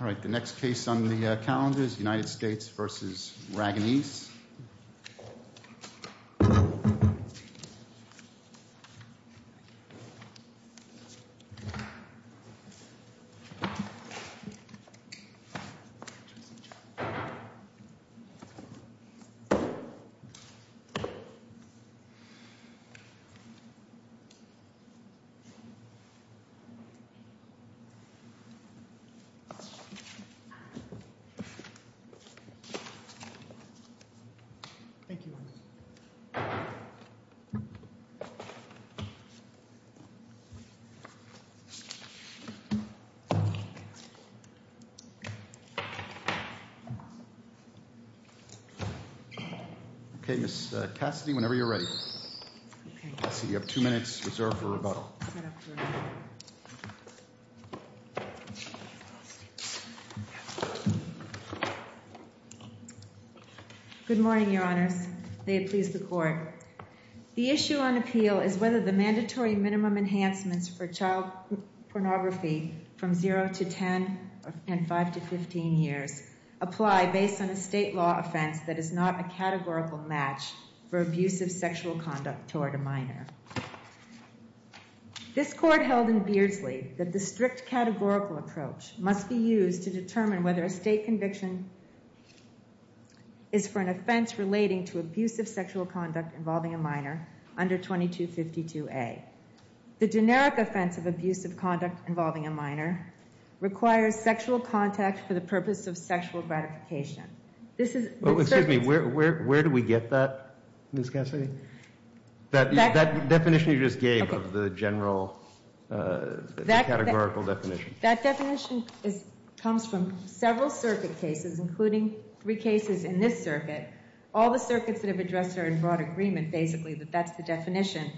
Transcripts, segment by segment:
All right, the next case on the calendar is United States v. Ragonese. Thank you. Okay, Miss Cassidy, whenever you're ready. Miss Cassidy, you have two minutes reserved for rebuttal. Good morning, Your Honors. May it please the Court. The issue on appeal is whether the mandatory minimum enhancements for child pornography from 0 to 10 and 5 to 15 years apply based on a state law offense that is not a categorical match for abusive sexual activity. This court held in Beardsley that the strict categorical approach must be used to determine whether a state conviction is for an offense relating to abusive sexual conduct involving a minor under 2252A. The generic offense of abusive conduct involving a minor requires sexual contact for the purpose of sexual gratification. This is... Excuse me, where do we get that, Miss Cassidy? That definition you just gave of the general categorical definition. That definition comes from several circuit cases, including three cases in this circuit. All the circuits that have addressed are in broad agreement, basically, that that's the definition.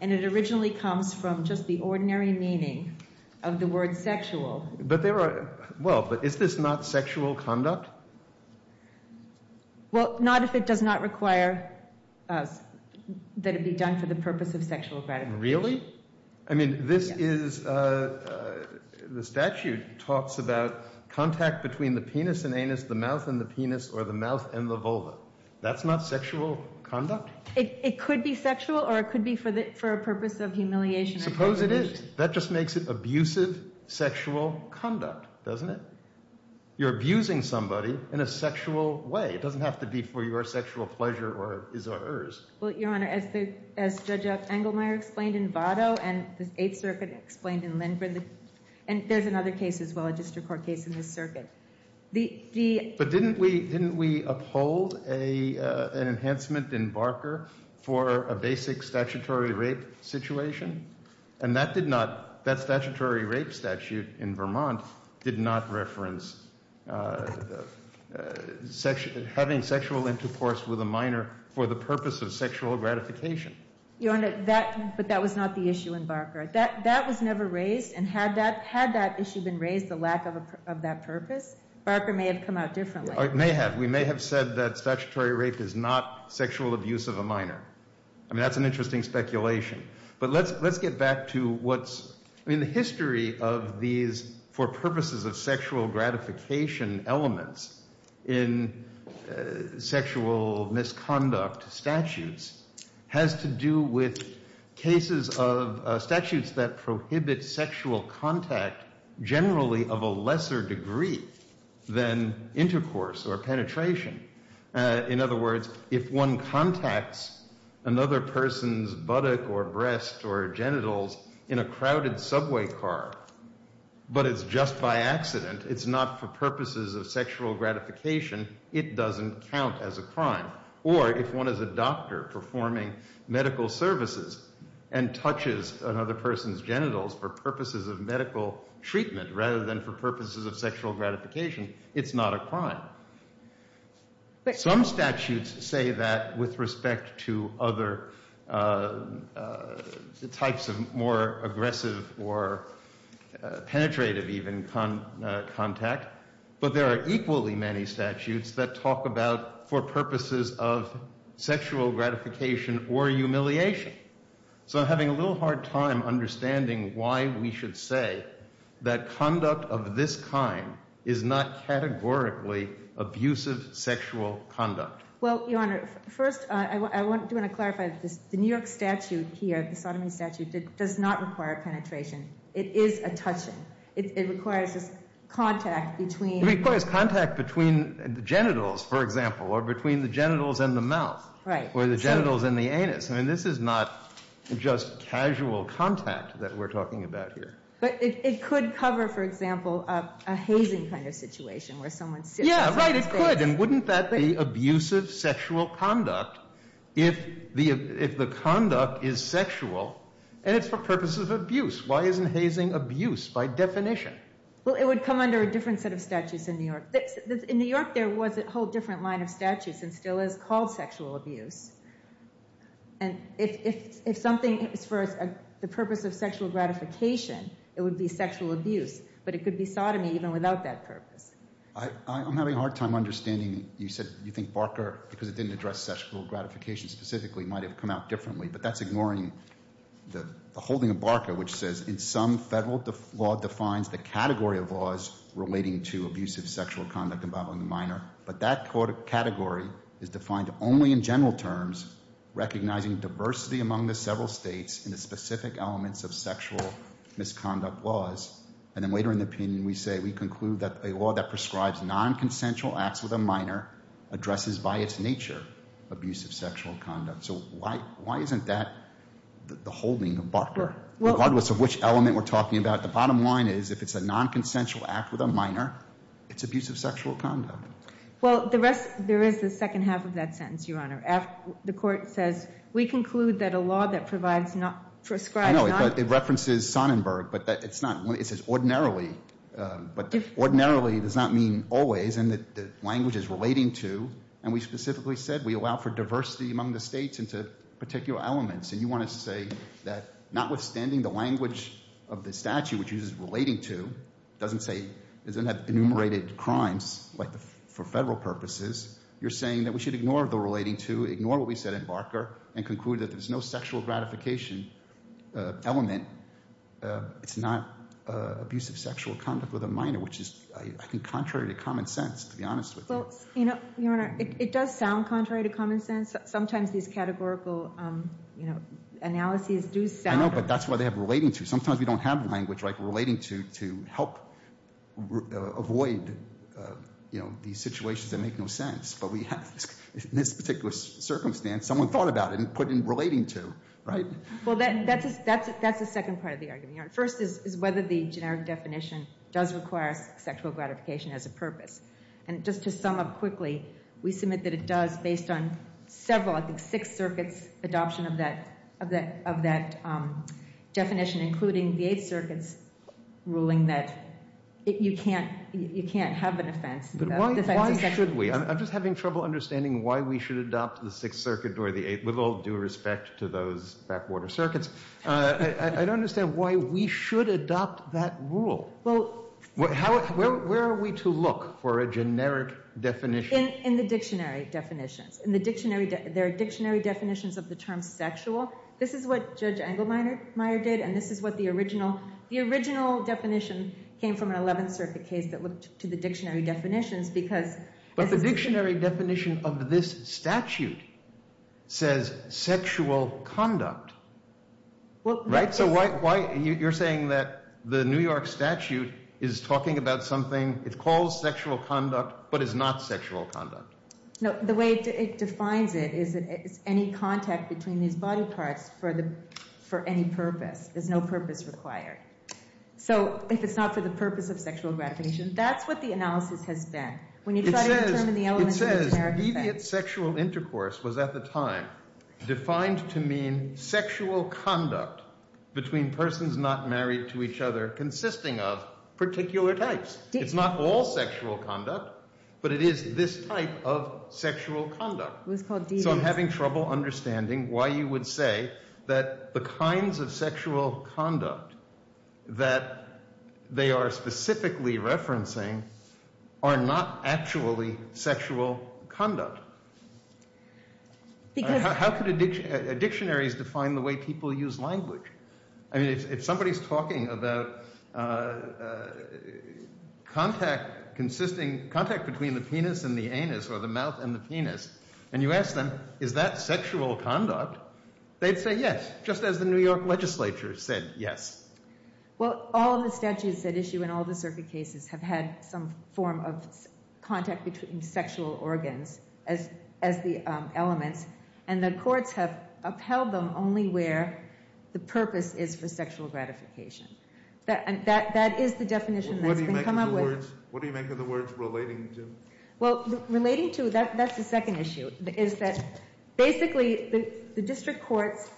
And it originally comes from just the ordinary meaning of the word sexual. But there are... Well, but is this not sexual conduct? Well, not if it does not require that it be done for the purpose of sexual gratification. Really? I mean, this is... The statute talks about contact between the penis and anus, the mouth and the penis, or the mouth and the vulva. That's not sexual conduct. It could be sexual or it could be for a purpose of humiliation. Suppose it is. That just makes it abusive sexual conduct, doesn't it? You're abusing somebody in a sexual way. It doesn't have to be for your sexual pleasure or his or hers. Well, Your Honor, as Judge Engelmeyer explained in Votto and the Eighth Circuit explained in Lindgren, and there's another case as well, a district court case in this circuit. But didn't we uphold an enhancement in Barker for a basic statutory rape situation? And that did not... That statutory rape statute in Vermont did not reference having sexual intercourse with a minor for the purpose of sexual gratification. Your Honor, that... But that was not the issue in Barker. That was never raised, and had that issue been raised, the lack of that purpose, Barker may have come out differently. It may have. We may have said that statutory rape is not sexual abuse of a minor. I mean, that's an interesting speculation. But let's get back to what's... I mean, the history of these for purposes of sexual gratification elements in sexual misconduct statutes has to do with cases of statutes that prohibit sexual contact generally of a lesser degree than intercourse or penetration. In other words, if one contacts another person's buttock or breast or genitals in a crowded subway car, but it's just by accident, it's not for purposes of sexual gratification, it doesn't count as a crime. Or if one is a doctor performing medical services and touches another person's genitals for purposes of medical treatment rather than for purposes of sexual gratification, it's not a crime. Some statutes say that with respect to other types of more aggressive or... penetrative even contact, but there are equally many statutes that talk about for purposes of sexual gratification or humiliation. So I'm having a little hard time understanding why we should say that conduct of this kind is not categorically abusive sexual conduct. Well, Your Honor, first I do want to clarify that the New York statute here, the sodomy statute, does not require penetration. It is a touching. It requires this contact between... It requires contact between the genitals, for example, or between the genitals and the mouth, or the genitals and the anus. I mean, this is not just casual contact that we're talking about here. But it could cover, for example, a hazing kind of situation where someone sits... Yeah, right, it could, and wouldn't that be abusive sexual conduct if the conduct is sexual and it's for purposes of abuse? Well, it would come under a different set of statutes in New York. In New York, there was a whole different line of statutes and still is called sexual abuse. And if something is for the purpose of sexual gratification, it would be sexual abuse. But it could be sodomy even without that purpose. I'm having a hard time understanding. You said you think Barker, because it didn't address sexual gratification specifically, might have come out differently. But that's ignoring the holding of Barker, which says, in some federal law defines the category of laws relating to abusive sexual conduct involving the minor. But that category is defined only in general terms, recognizing diversity among the several states in the specific elements of sexual misconduct laws. And then later in the opinion, we say we conclude that a law that prescribes nonconsensual acts with a minor addresses by its nature abusive sexual conduct. So why isn't that the holding of Barker, regardless of which element we're talking about? The bottom line is, if it's a nonconsensual act with a minor, it's abusive sexual conduct. Well, there is the second half of that sentence, Your Honor. The court says, we conclude that a law that prescribes non— relating to, and we specifically said we allow for diversity among the states into particular elements. And you want to say that, notwithstanding the language of the statute, which uses relating to, doesn't say—doesn't have enumerated crimes for federal purposes. You're saying that we should ignore the relating to, ignore what we said in Barker, and conclude that there's no sexual gratification element. It's not abusive sexual conduct with a minor, which is, I think, contrary to common sense, to be honest with you. Well, Your Honor, it does sound contrary to common sense. Sometimes these categorical analyses do sound— I know, but that's why they have relating to. Sometimes we don't have language like relating to, to help avoid, you know, these situations that make no sense. But we have, in this particular circumstance, someone thought about it and put in relating to, right? Well, that's the second part of the argument, Your Honor. First is whether the generic definition does require sexual gratification as a purpose. And just to sum up quickly, we submit that it does, based on several, I think, Sixth Circuit's adoption of that definition, including the Eighth Circuit's ruling that you can't have an offense. But why should we? I'm just having trouble understanding why we should adopt the Sixth Circuit or the Eighth, with all due respect to those backwater circuits, I don't understand why we should adopt that rule. Where are we to look for a generic definition? In the dictionary definitions. There are dictionary definitions of the term sexual. This is what Judge Engelmeyer did, and this is what the original definition came from, an Eleventh Circuit case that looked to the dictionary definitions because— The dictionary definition of this statute says sexual conduct, right? So you're saying that the New York statute is talking about something, it calls sexual conduct, but it's not sexual conduct. No, the way it defines it is any contact between these body parts for any purpose. There's no purpose required. So if it's not for the purpose of sexual gratification, that's what the analysis has been. It says deviant sexual intercourse was at the time defined to mean sexual conduct between persons not married to each other consisting of particular types. It's not all sexual conduct, but it is this type of sexual conduct. So I'm having trouble understanding why you would say that the kinds of sexual conduct that they are specifically referencing are not actually sexual conduct. How could dictionaries define the way people use language? I mean, if somebody's talking about contact between the penis and the anus or the mouth and the penis, and you ask them, is that sexual conduct? They'd say yes, just as the New York legislature said yes. Well, all of the statutes that issue in all the circuit cases have had some form of contact between sexual organs as the elements, and the courts have upheld them only where the purpose is for sexual gratification. What do you make of the words relating to? Well, relating to, that's the second issue, is that basically the district courts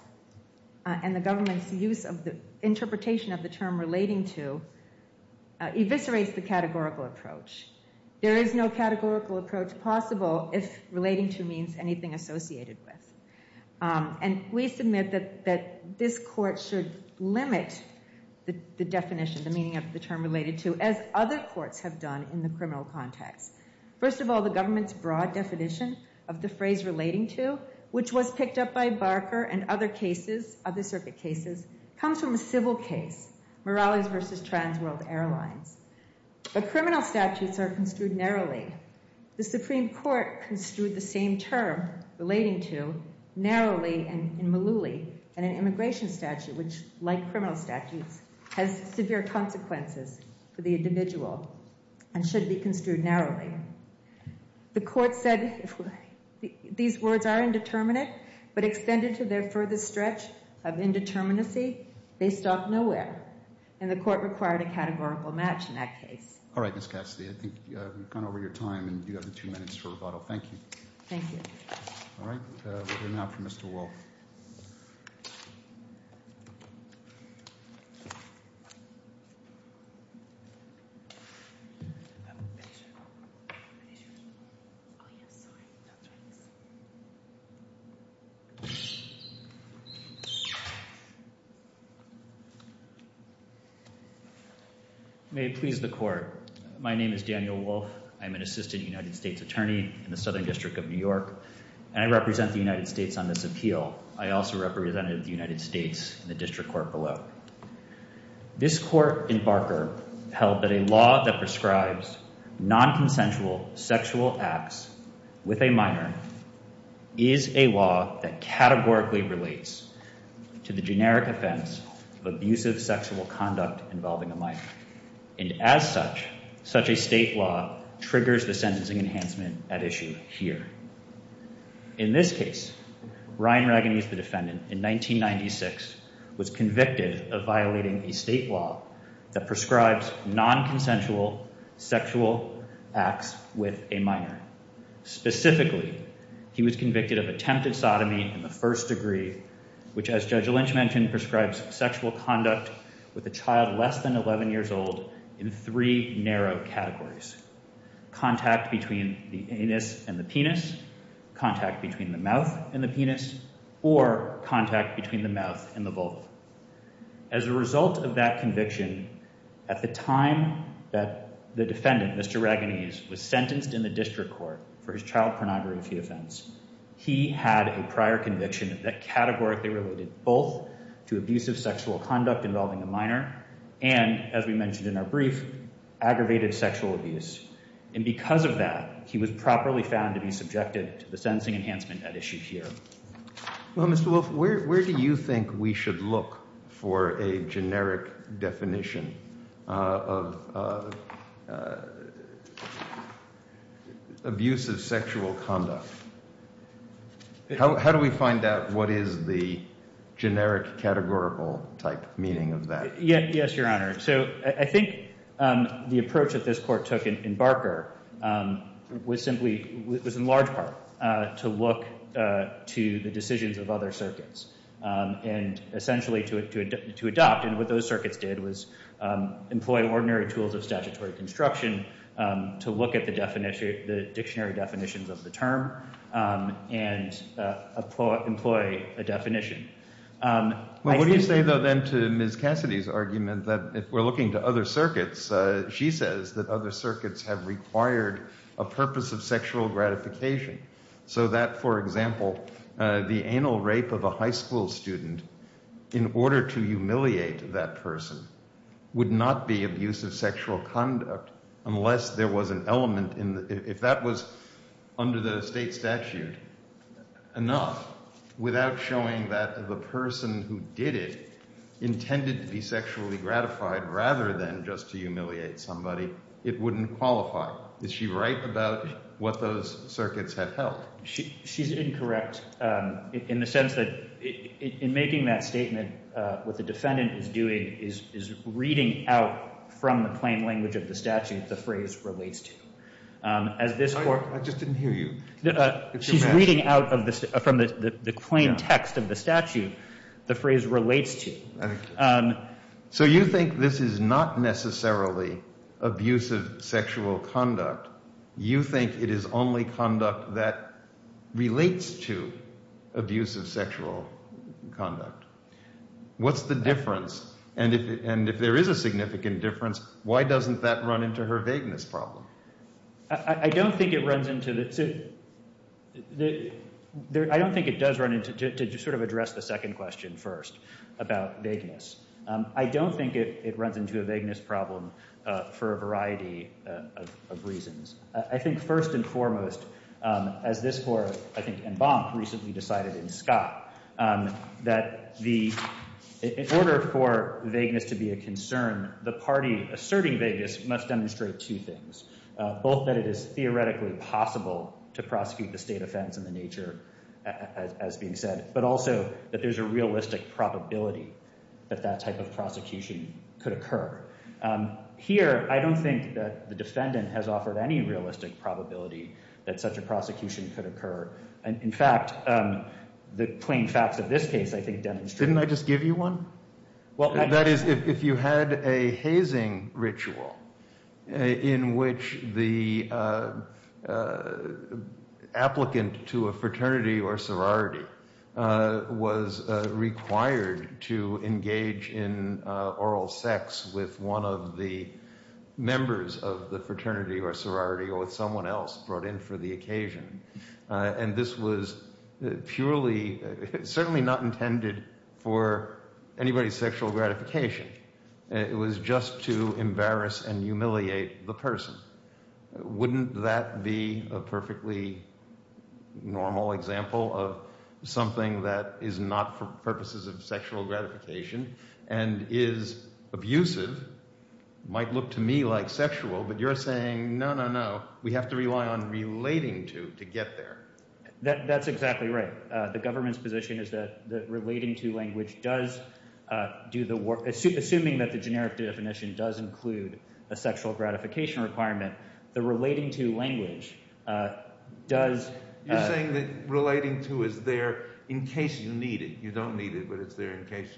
and the government's use of the interpretation of the term relating to eviscerates the categorical approach. There is no categorical approach possible if relating to means anything associated with. And we submit that this court should limit the definition, the meaning of the term related to, as other courts have done in the criminal context. First of all, the government's broad definition of the phrase relating to, which was picked up by Barker and other cases, other circuit cases, comes from a civil case, Morales v. Trans World Airlines. But criminal statutes are construed narrowly. The Supreme Court construed the same term relating to narrowly in Mullooly in an immigration statute, which, like criminal statutes, has severe consequences for the individual and should be construed narrowly. The court said these words are indeterminate, but extended to their furthest stretch of indeterminacy, they stop nowhere. And the court required a categorical match in that case. All right, Ms. Cassidy, I think we've gone over your time, and you have two minutes for rebuttal. Thank you. Thank you. All right, we'll hear now from Mr. Wolf. May it please the court. My name is Daniel Wolf. I'm an assistant United States attorney in the Southern District of New York, and I represent the United States on this appeal. I also represented the United States in the district court below. This court in Barker held that a law that prescribes nonconsensual sexual acts with a minor is a law that categorically relates to the generic offense of abusive sexual conduct involving a minor. And as such, such a state law triggers the sentencing enhancement at issue here. In this case, Ryan Ragonese, the defendant, in 1996, was convicted of violating a state law that prescribes sexual conduct with a minor. Specifically, he was convicted of attempted sodomy in the first degree, which, as Judge Lynch mentioned, prescribes sexual conduct with a child less than 11 years old in three narrow categories. Contact between the anus and the penis, contact between the mouth and the penis, or contact between the mouth and the vulva. As a result of that conviction, at the time that the defendant, Mr. Ragonese, was sentenced in the district court for his child pornography offense, he had a prior conviction that categorically related both to abusive sexual conduct involving a minor and, as we mentioned in our brief, aggravated sexual abuse. And because of that, he was properly found to be subjected to the sentencing enhancement at issue here. Well, Mr. Wolf, where do you think we should look for a generic definition of abusive sexual conduct? How do we find out what is the generic categorical type meaning of that? Yes, Your Honor. So I think the approach that this court took in Barker was in large part to look to the decisions of other circuits and essentially to adopt. And what those circuits did was employ ordinary tools of statutory construction to look at the dictionary definitions of the term and employ a definition. Well, what do you say, though, then, to Ms. Cassidy's argument that if we're looking to other circuits, she says that other circuits have required a purpose of sexual gratification so that, for example, the anal rape of a high school student, in order to humiliate that person, would not be abusive sexual conduct unless there was an element in it. If that was under the state statute enough without showing that the person who did it intended to be sexually gratified rather than just to humiliate somebody, it wouldn't qualify. Is she right about what those circuits have held? She's incorrect in the sense that in making that statement, what the defendant is doing is she's reading out from the claim text of the statute the phrase relates to. So you think this is not necessarily abusive sexual conduct. You think it is only conduct that relates to abusive sexual conduct. What's the difference? And if there is a I don't think it runs into the to sort of address the second question first about vagueness. I don't think it runs into a vagueness problem for a variety of reasons. I think first and foremost, as this Court, I think, and Bonk recently decided in Scott, that in order for vagueness to be a concern, the party asserting vagueness must demonstrate two things. Both that it is theoretically possible to prosecute the state offense in the nature as being said, but also that there's a realistic probability that that type of prosecution could occur. Here, I don't think that the defendant has offered any realistic probability that such a prosecution could occur. In fact, the you had a hazing ritual in which the applicant to a fraternity or sorority was required to engage in oral sex with one of the members of the fraternity or sorority or with someone else brought in for the occasion. And this was purely certainly not intended for anybody's sexual gratification. It was just to embarrass and humiliate the person. Wouldn't that be a perfectly normal example of something that is not for purposes of sexual gratification and is abusive, might look to me like sexual, but you're saying, no, no, no, we have to rely on relating to to get there. That's exactly right. The government's position is that the relating to language does do the work. Assuming that the generic definition does include a sexual gratification requirement, the relating to language does. You're saying that relating to is there in case you need it. You don't need it, but it's there in case.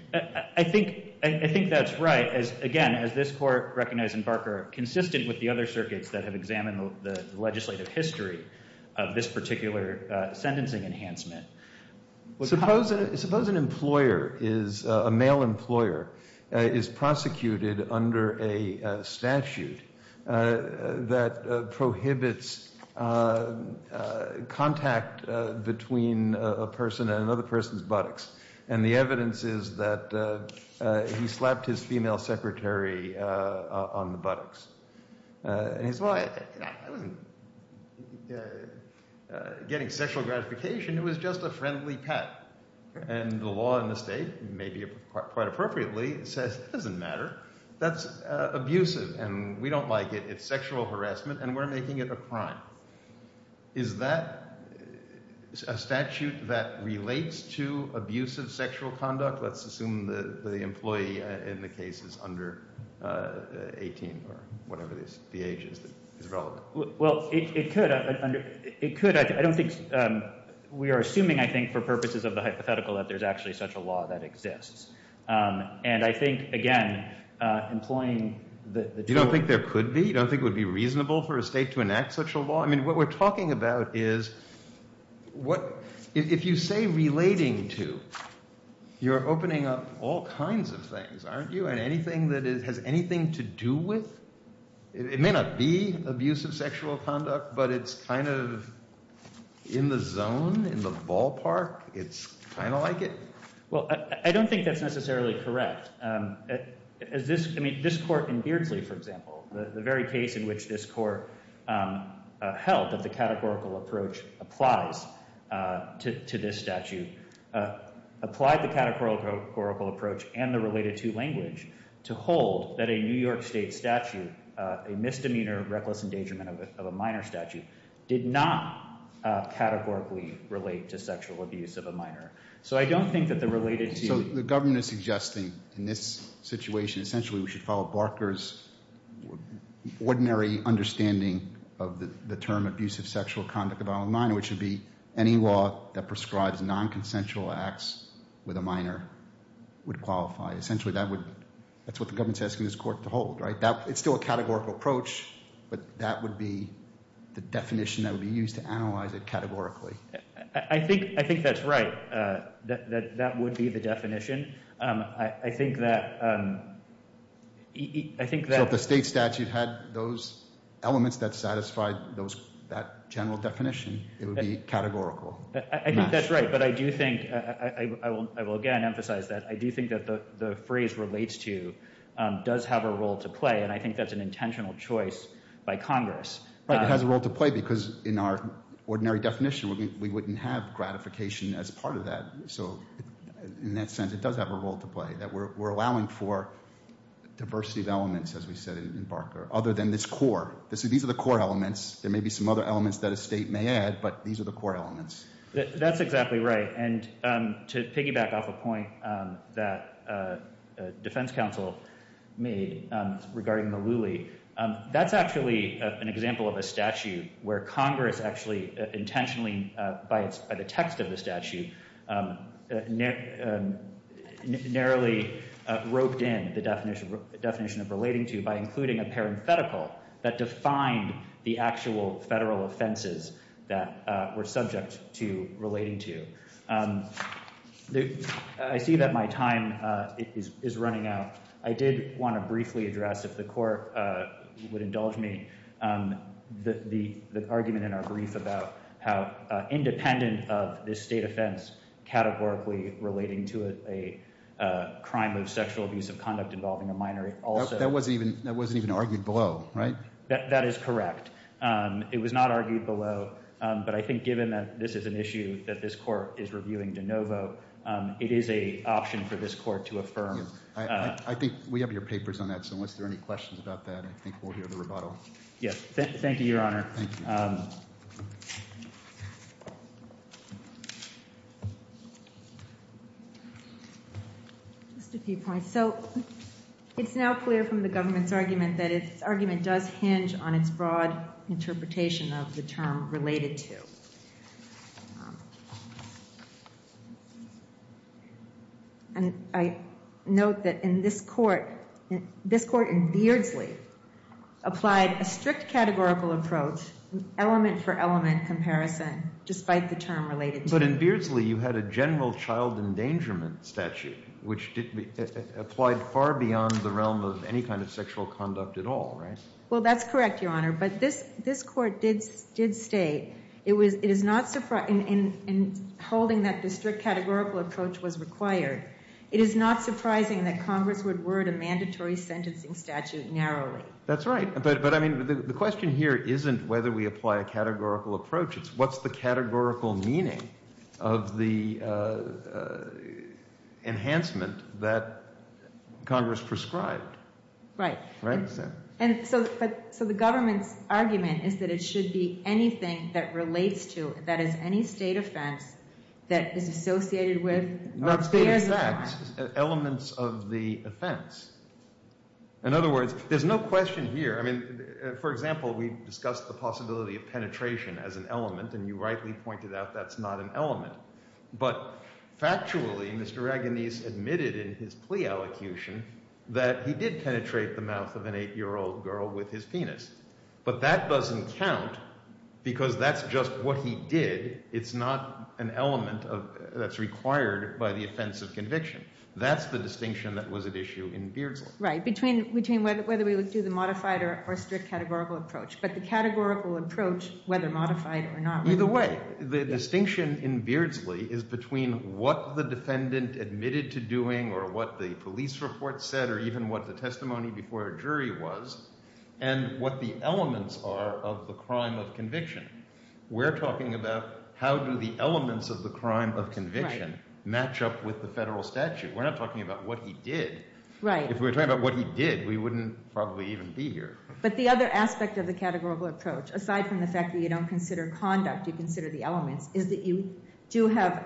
I think that's right. Again, as this court recognized in Barker, consistent with the other circuits that have examined the legislative history of this particular sentencing enhancement. Suppose an employer is a male employer is prosecuted under a statute that prohibits contact between a person and another person's buttocks. And the evidence is that he slapped his female secretary on the buttocks. And he said, well, I wasn't getting sexual gratification. It was just a friendly pet. And the law in the state, maybe quite appropriately, says it doesn't matter. That's abusive and we don't like it. It's sexual harassment and we're making it a crime. Is that a statute that relates to abusive sexual conduct? Let's assume the employee in the case is under 18 or whatever the age is relevant. We are assuming, I think, for purposes of the hypothetical that there's actually such a law that exists. And I think, again, employing the... You don't think there could be? You don't think it would be reasonable for a state to enact such a law? I mean, what we're talking about is, if you say relating to, you're opening up all kinds of things, aren't you? And anything that has anything to do with? It may not be abusive sexual conduct, but it's kind of in the zone, in the ballpark. It's kind of like it? Well, I don't think that's necessarily correct. This court in Beardsley, for example, the very case in which this court held that the categorical approach applies to this statute applied the categorical approach and the related to language to hold that a New York State statute, a misdemeanor, reckless endangerment of a minor statute, did not categorically relate to sexual abuse of a minor. So I don't think that the related to... So the government is suggesting in this situation, essentially we should follow Barker's ordinary understanding of the term abusive sexual conduct of a minor, which would be any law that prescribes non-consensual acts with a minor would qualify. Essentially, that's what the government is asking this court to hold, right? It's still a categorical approach, but that would be the definition that would be used to analyze it categorically. I think that's right. That would be the definition. I think that... So if the state statute had those elements that satisfied that general definition, it would be categorical. I think that's right, but I do think I will again emphasize that I do think that the phrase relates to does have a role to play, and I think that's an intentional choice by Congress. It has a role to play because in our ordinary definition, we wouldn't have gratification as part of that. So in that sense, it does have a role to play, that we're allowing for diversity of elements, as we said in Barker, other than this core. These are the core elements. There may be some other elements that a state may add, but these are the core elements. That's exactly right, and to piggyback off a point that defense counsel made regarding Malooly, that's actually an example of a statute where Congress actually intentionally, by the text of the statute, narrowly roped in the definition of relating to by including a parenthetical that defined the actual federal offenses that were subject to relating to. I see that my time is running out. I did want to briefly address, if the court would indulge me, the argument in our brief about how independent of this state offense categorically relating to a crime of sexual abuse of conduct involving a minor. That wasn't even argued below, right? That is correct. It was not argued below, but I think given that this is an issue that this court is reviewing de novo, it is an option for this court to affirm. I think we have your papers on that, so unless there are any questions about that, I think we'll hear the rebuttal. Yes. Thank you, Your Honor. Just a few points. So it's now clear from the government's argument that its argument does hinge on its broad interpretation of the term related to. And I note that in this court, this court in Beardsley applied a strict categorical approach, element for element comparison, despite the term related to. But in Beardsley, you had a general child endangerment statute, which applied far beyond the realm of any kind of sexual conduct at all, right? Well, that's correct, Your Honor, but this court did state, it is not surprising, in holding that the strict categorical approach was required, it is not surprising that Congress would word a mandatory sentencing statute narrowly. That's right, but I mean, the question here isn't whether we apply a categorical approach, it's what's the categorical meaning of the enhancement that Congress prescribed. Right. And so the government's argument is that it should be anything that relates to, that is any state offense that is associated with Not state of facts, elements of the offense. In other words, there's no question here. I mean, for example, we discussed the possibility of penetration as an element, and you rightly pointed out that's not an element. But factually, Mr. Raganese admitted in his plea allocution that he did penetrate the mouth of an eight-year-old girl with his penis. But that doesn't count, because that's just what he did. It's not an element that's required by the offense of conviction. That's the distinction that was at issue in Beardsley. Right, between whether we do the modified or strict categorical approach. But the categorical approach, whether modified or not. Either way, the distinction in Beardsley is between what the defendant admitted to doing, or what the police report said, or even what the testimony before a jury was, and what the elements are of the crime of conviction. We're talking about how do the elements of the crime of conviction match up with the federal statute. We're not talking about what he did. Right. If we were talking about what he did, we wouldn't probably even be here. But the other aspect of the categorical approach, aside from the fact that you don't consider conduct, you consider the elements, is that you do have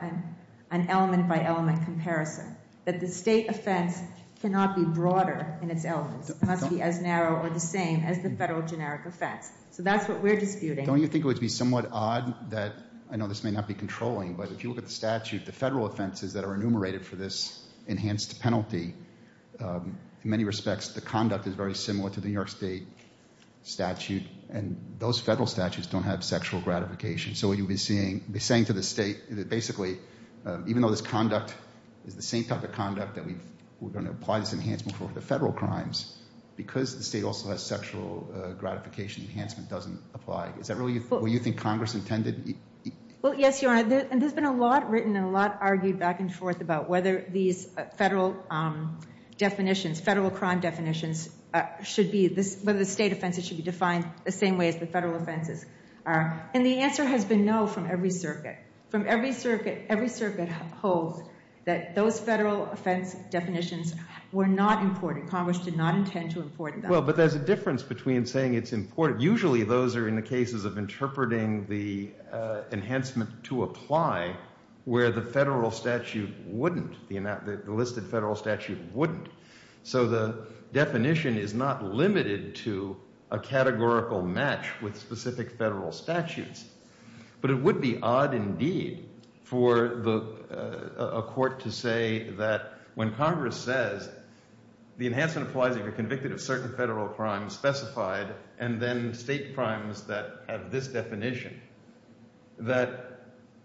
an element by element comparison. That the state offense cannot be broader in its elements. It must be as narrow or the same as the federal generic offense. So that's what we're disputing. Don't you think it would be somewhat odd that, I know this may not be controlling, but if you look at the statute, the federal offenses that are enumerated for this enhanced penalty, in many respects the conduct is very sexual gratification. So what you've been saying to the state, basically, even though this conduct is the same type of conduct that we're going to apply this enhancement for the federal crimes, because the state also has sexual gratification, enhancement doesn't apply. Is that really what you think Congress intended? Well, yes, Your Honor. And there's been a lot written and a lot argued back and forth about whether these federal definitions, federal crime definitions should be, whether the state offenses should be defined the same way as the federal offenses are. And the answer has been no from every circuit. From every circuit, every circuit holds that those federal offense definitions were not important. Congress did not intend to import them. Well, but there's a difference between saying it's important. Usually those are in the cases of interpreting the enhancement to apply where the federal statute wouldn't, the listed federal statute wouldn't. So the definition is not limited to a categorical match with specific federal statutes. But it would be odd indeed for a court to say that when Congress says the enhancement applies if you're convicted of certain federal crimes specified, and then state crimes that have this definition, that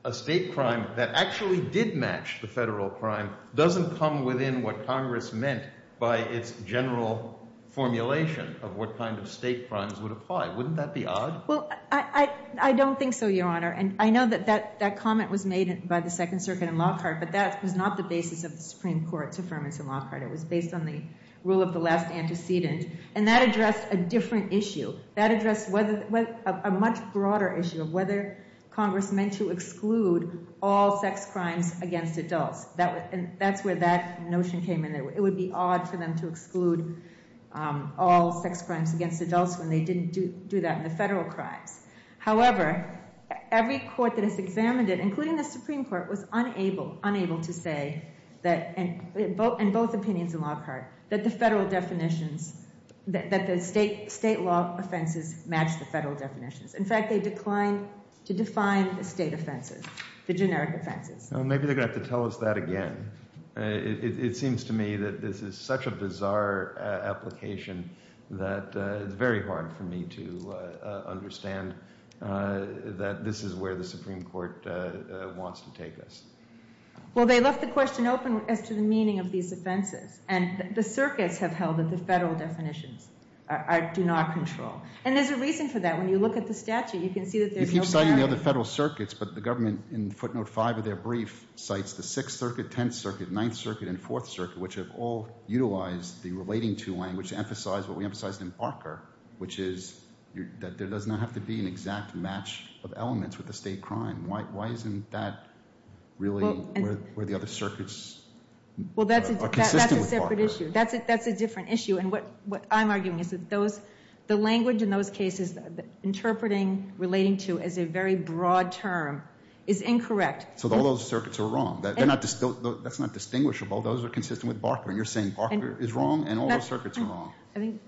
a state crime that actually did match the federal crime doesn't come within what Congress meant by its general formulation of what kind of state crimes would apply. Wouldn't that be odd? Well, I don't think so, Your Honor. And I know that that comment was made by the Second Circuit and Lockhart, but that was not the basis of the Supreme Court's affirmance in Lockhart. It was based on the rule of the last antecedent. And that addressed a different issue. That addressed a much broader issue of whether Congress meant to exclude all sex crimes against adults. That's where that notion came in. It would be odd for them to exclude all sex crimes against adults when they didn't do that in the federal crimes. However, every court that has examined it, including the Supreme Court, was unable to say in both opinions in Lockhart that the federal definitions, that the state law offenses match the federal definitions. In fact, they declined to define the state offenses, the generic offenses. Maybe they're going to have to tell us that again. It seems to me that this is such a bizarre application that it's very hard for me to understand that this is where the Supreme Court wants to take us. Well, they left the question open as to the meaning of these offenses. And the circuits have held that the federal definitions do not control. And there's a reason for that. When you look at the statute, you can see that there's no barrier. You keep citing the other federal circuits, but the government, in footnote 5 of their brief, cites the Sixth Circuit, Tenth Circuit, Ninth Circuit, and Fourth Circuit, which have all utilized the relating to language to emphasize what we emphasized in Barker, which is that there does not have to be an exact match of elements with the state crime. Why isn't that really where the other circuits are consistent with Barker? Well, that's a separate issue. That's a different issue. And what I'm arguing is that the language in those cases, interpreting relating to as a very broad term, is incorrect. So all those circuits are wrong. That's not distinguishable. Those are consistent with Barker. And you're saying Barker is wrong and all those circuits are wrong. I think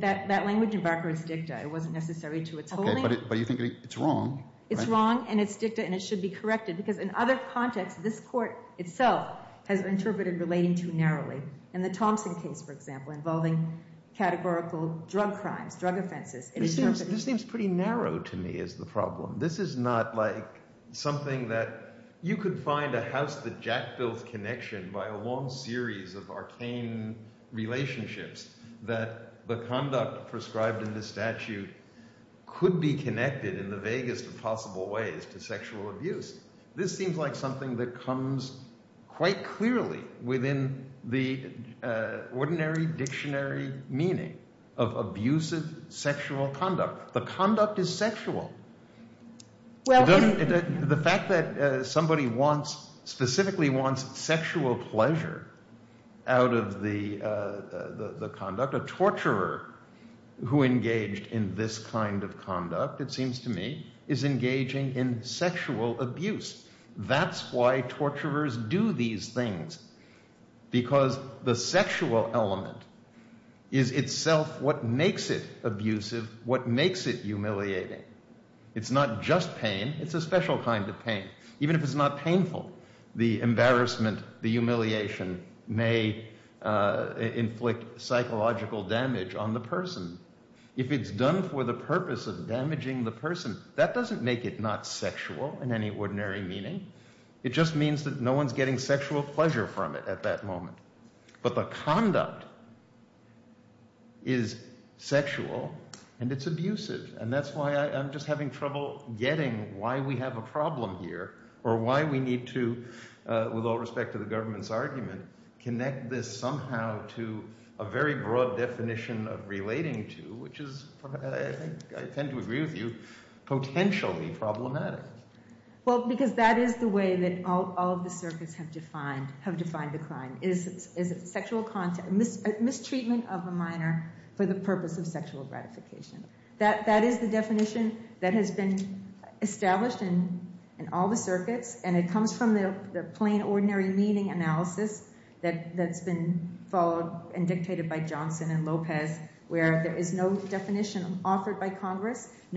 that language in Barker is dicta. It wasn't necessary to its holding. But you think it's wrong. It's wrong, and it's dicta, and it should be corrected. Because in other contexts, this Court itself has interpreted relating to narrowly. In the Thompson case, for example, involving categorical drug crimes, drug offenses. This seems pretty narrow to me as the problem. This is not like something that you could find a house-the-jack-built connection by a long series of arcane relationships that the conduct prescribed in the statute could be connected in the vaguest of possible ways to sexual abuse. This seems like something that comes quite clearly within the ordinary dictionary meaning of abusive sexual conduct. The conduct is sexual. The fact that somebody wants, specifically wants, sexual pleasure out of the conduct, a torturer who engaged in this kind of conduct, it seems to me, is engaging in sexual abuse. That's why torturers do these things. Because the sexual element is itself what makes it abusive, what makes it humiliating. It's not just pain. It's a special kind of pain. Even if it's not painful, the embarrassment, the humiliation may inflict psychological damage on the person. If it's done for the purpose of damaging the person, that just means that no one's getting sexual pleasure from it at that moment. But the conduct is sexual and it's abusive. And that's why I'm just having trouble getting why we have a problem here or why we need to, with all respect to the government's argument, connect this somehow to a very broad definition of relating to, which is, I tend to agree with you, potentially problematic. Well, because that is the way that all of the circuits have defined the crime. Is it sexual contact, mistreatment of a minor for the purpose of sexual gratification? That is the definition that has been established in all the circuits. And it comes from the plain, ordinary meaning analysis that's been followed and dictated by the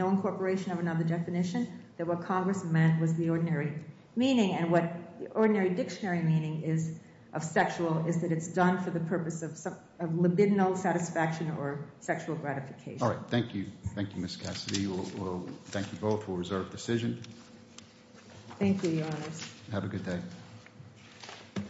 operation of another definition, that what Congress meant was the ordinary meaning. And what the ordinary dictionary meaning is of sexual is that it's done for the purpose of libidinal satisfaction or sexual gratification. All right. Thank you. Thank you, Ms. Cassidy. We'll thank you both. We'll reserve decision. Thank you, Your Honors. Have a good day.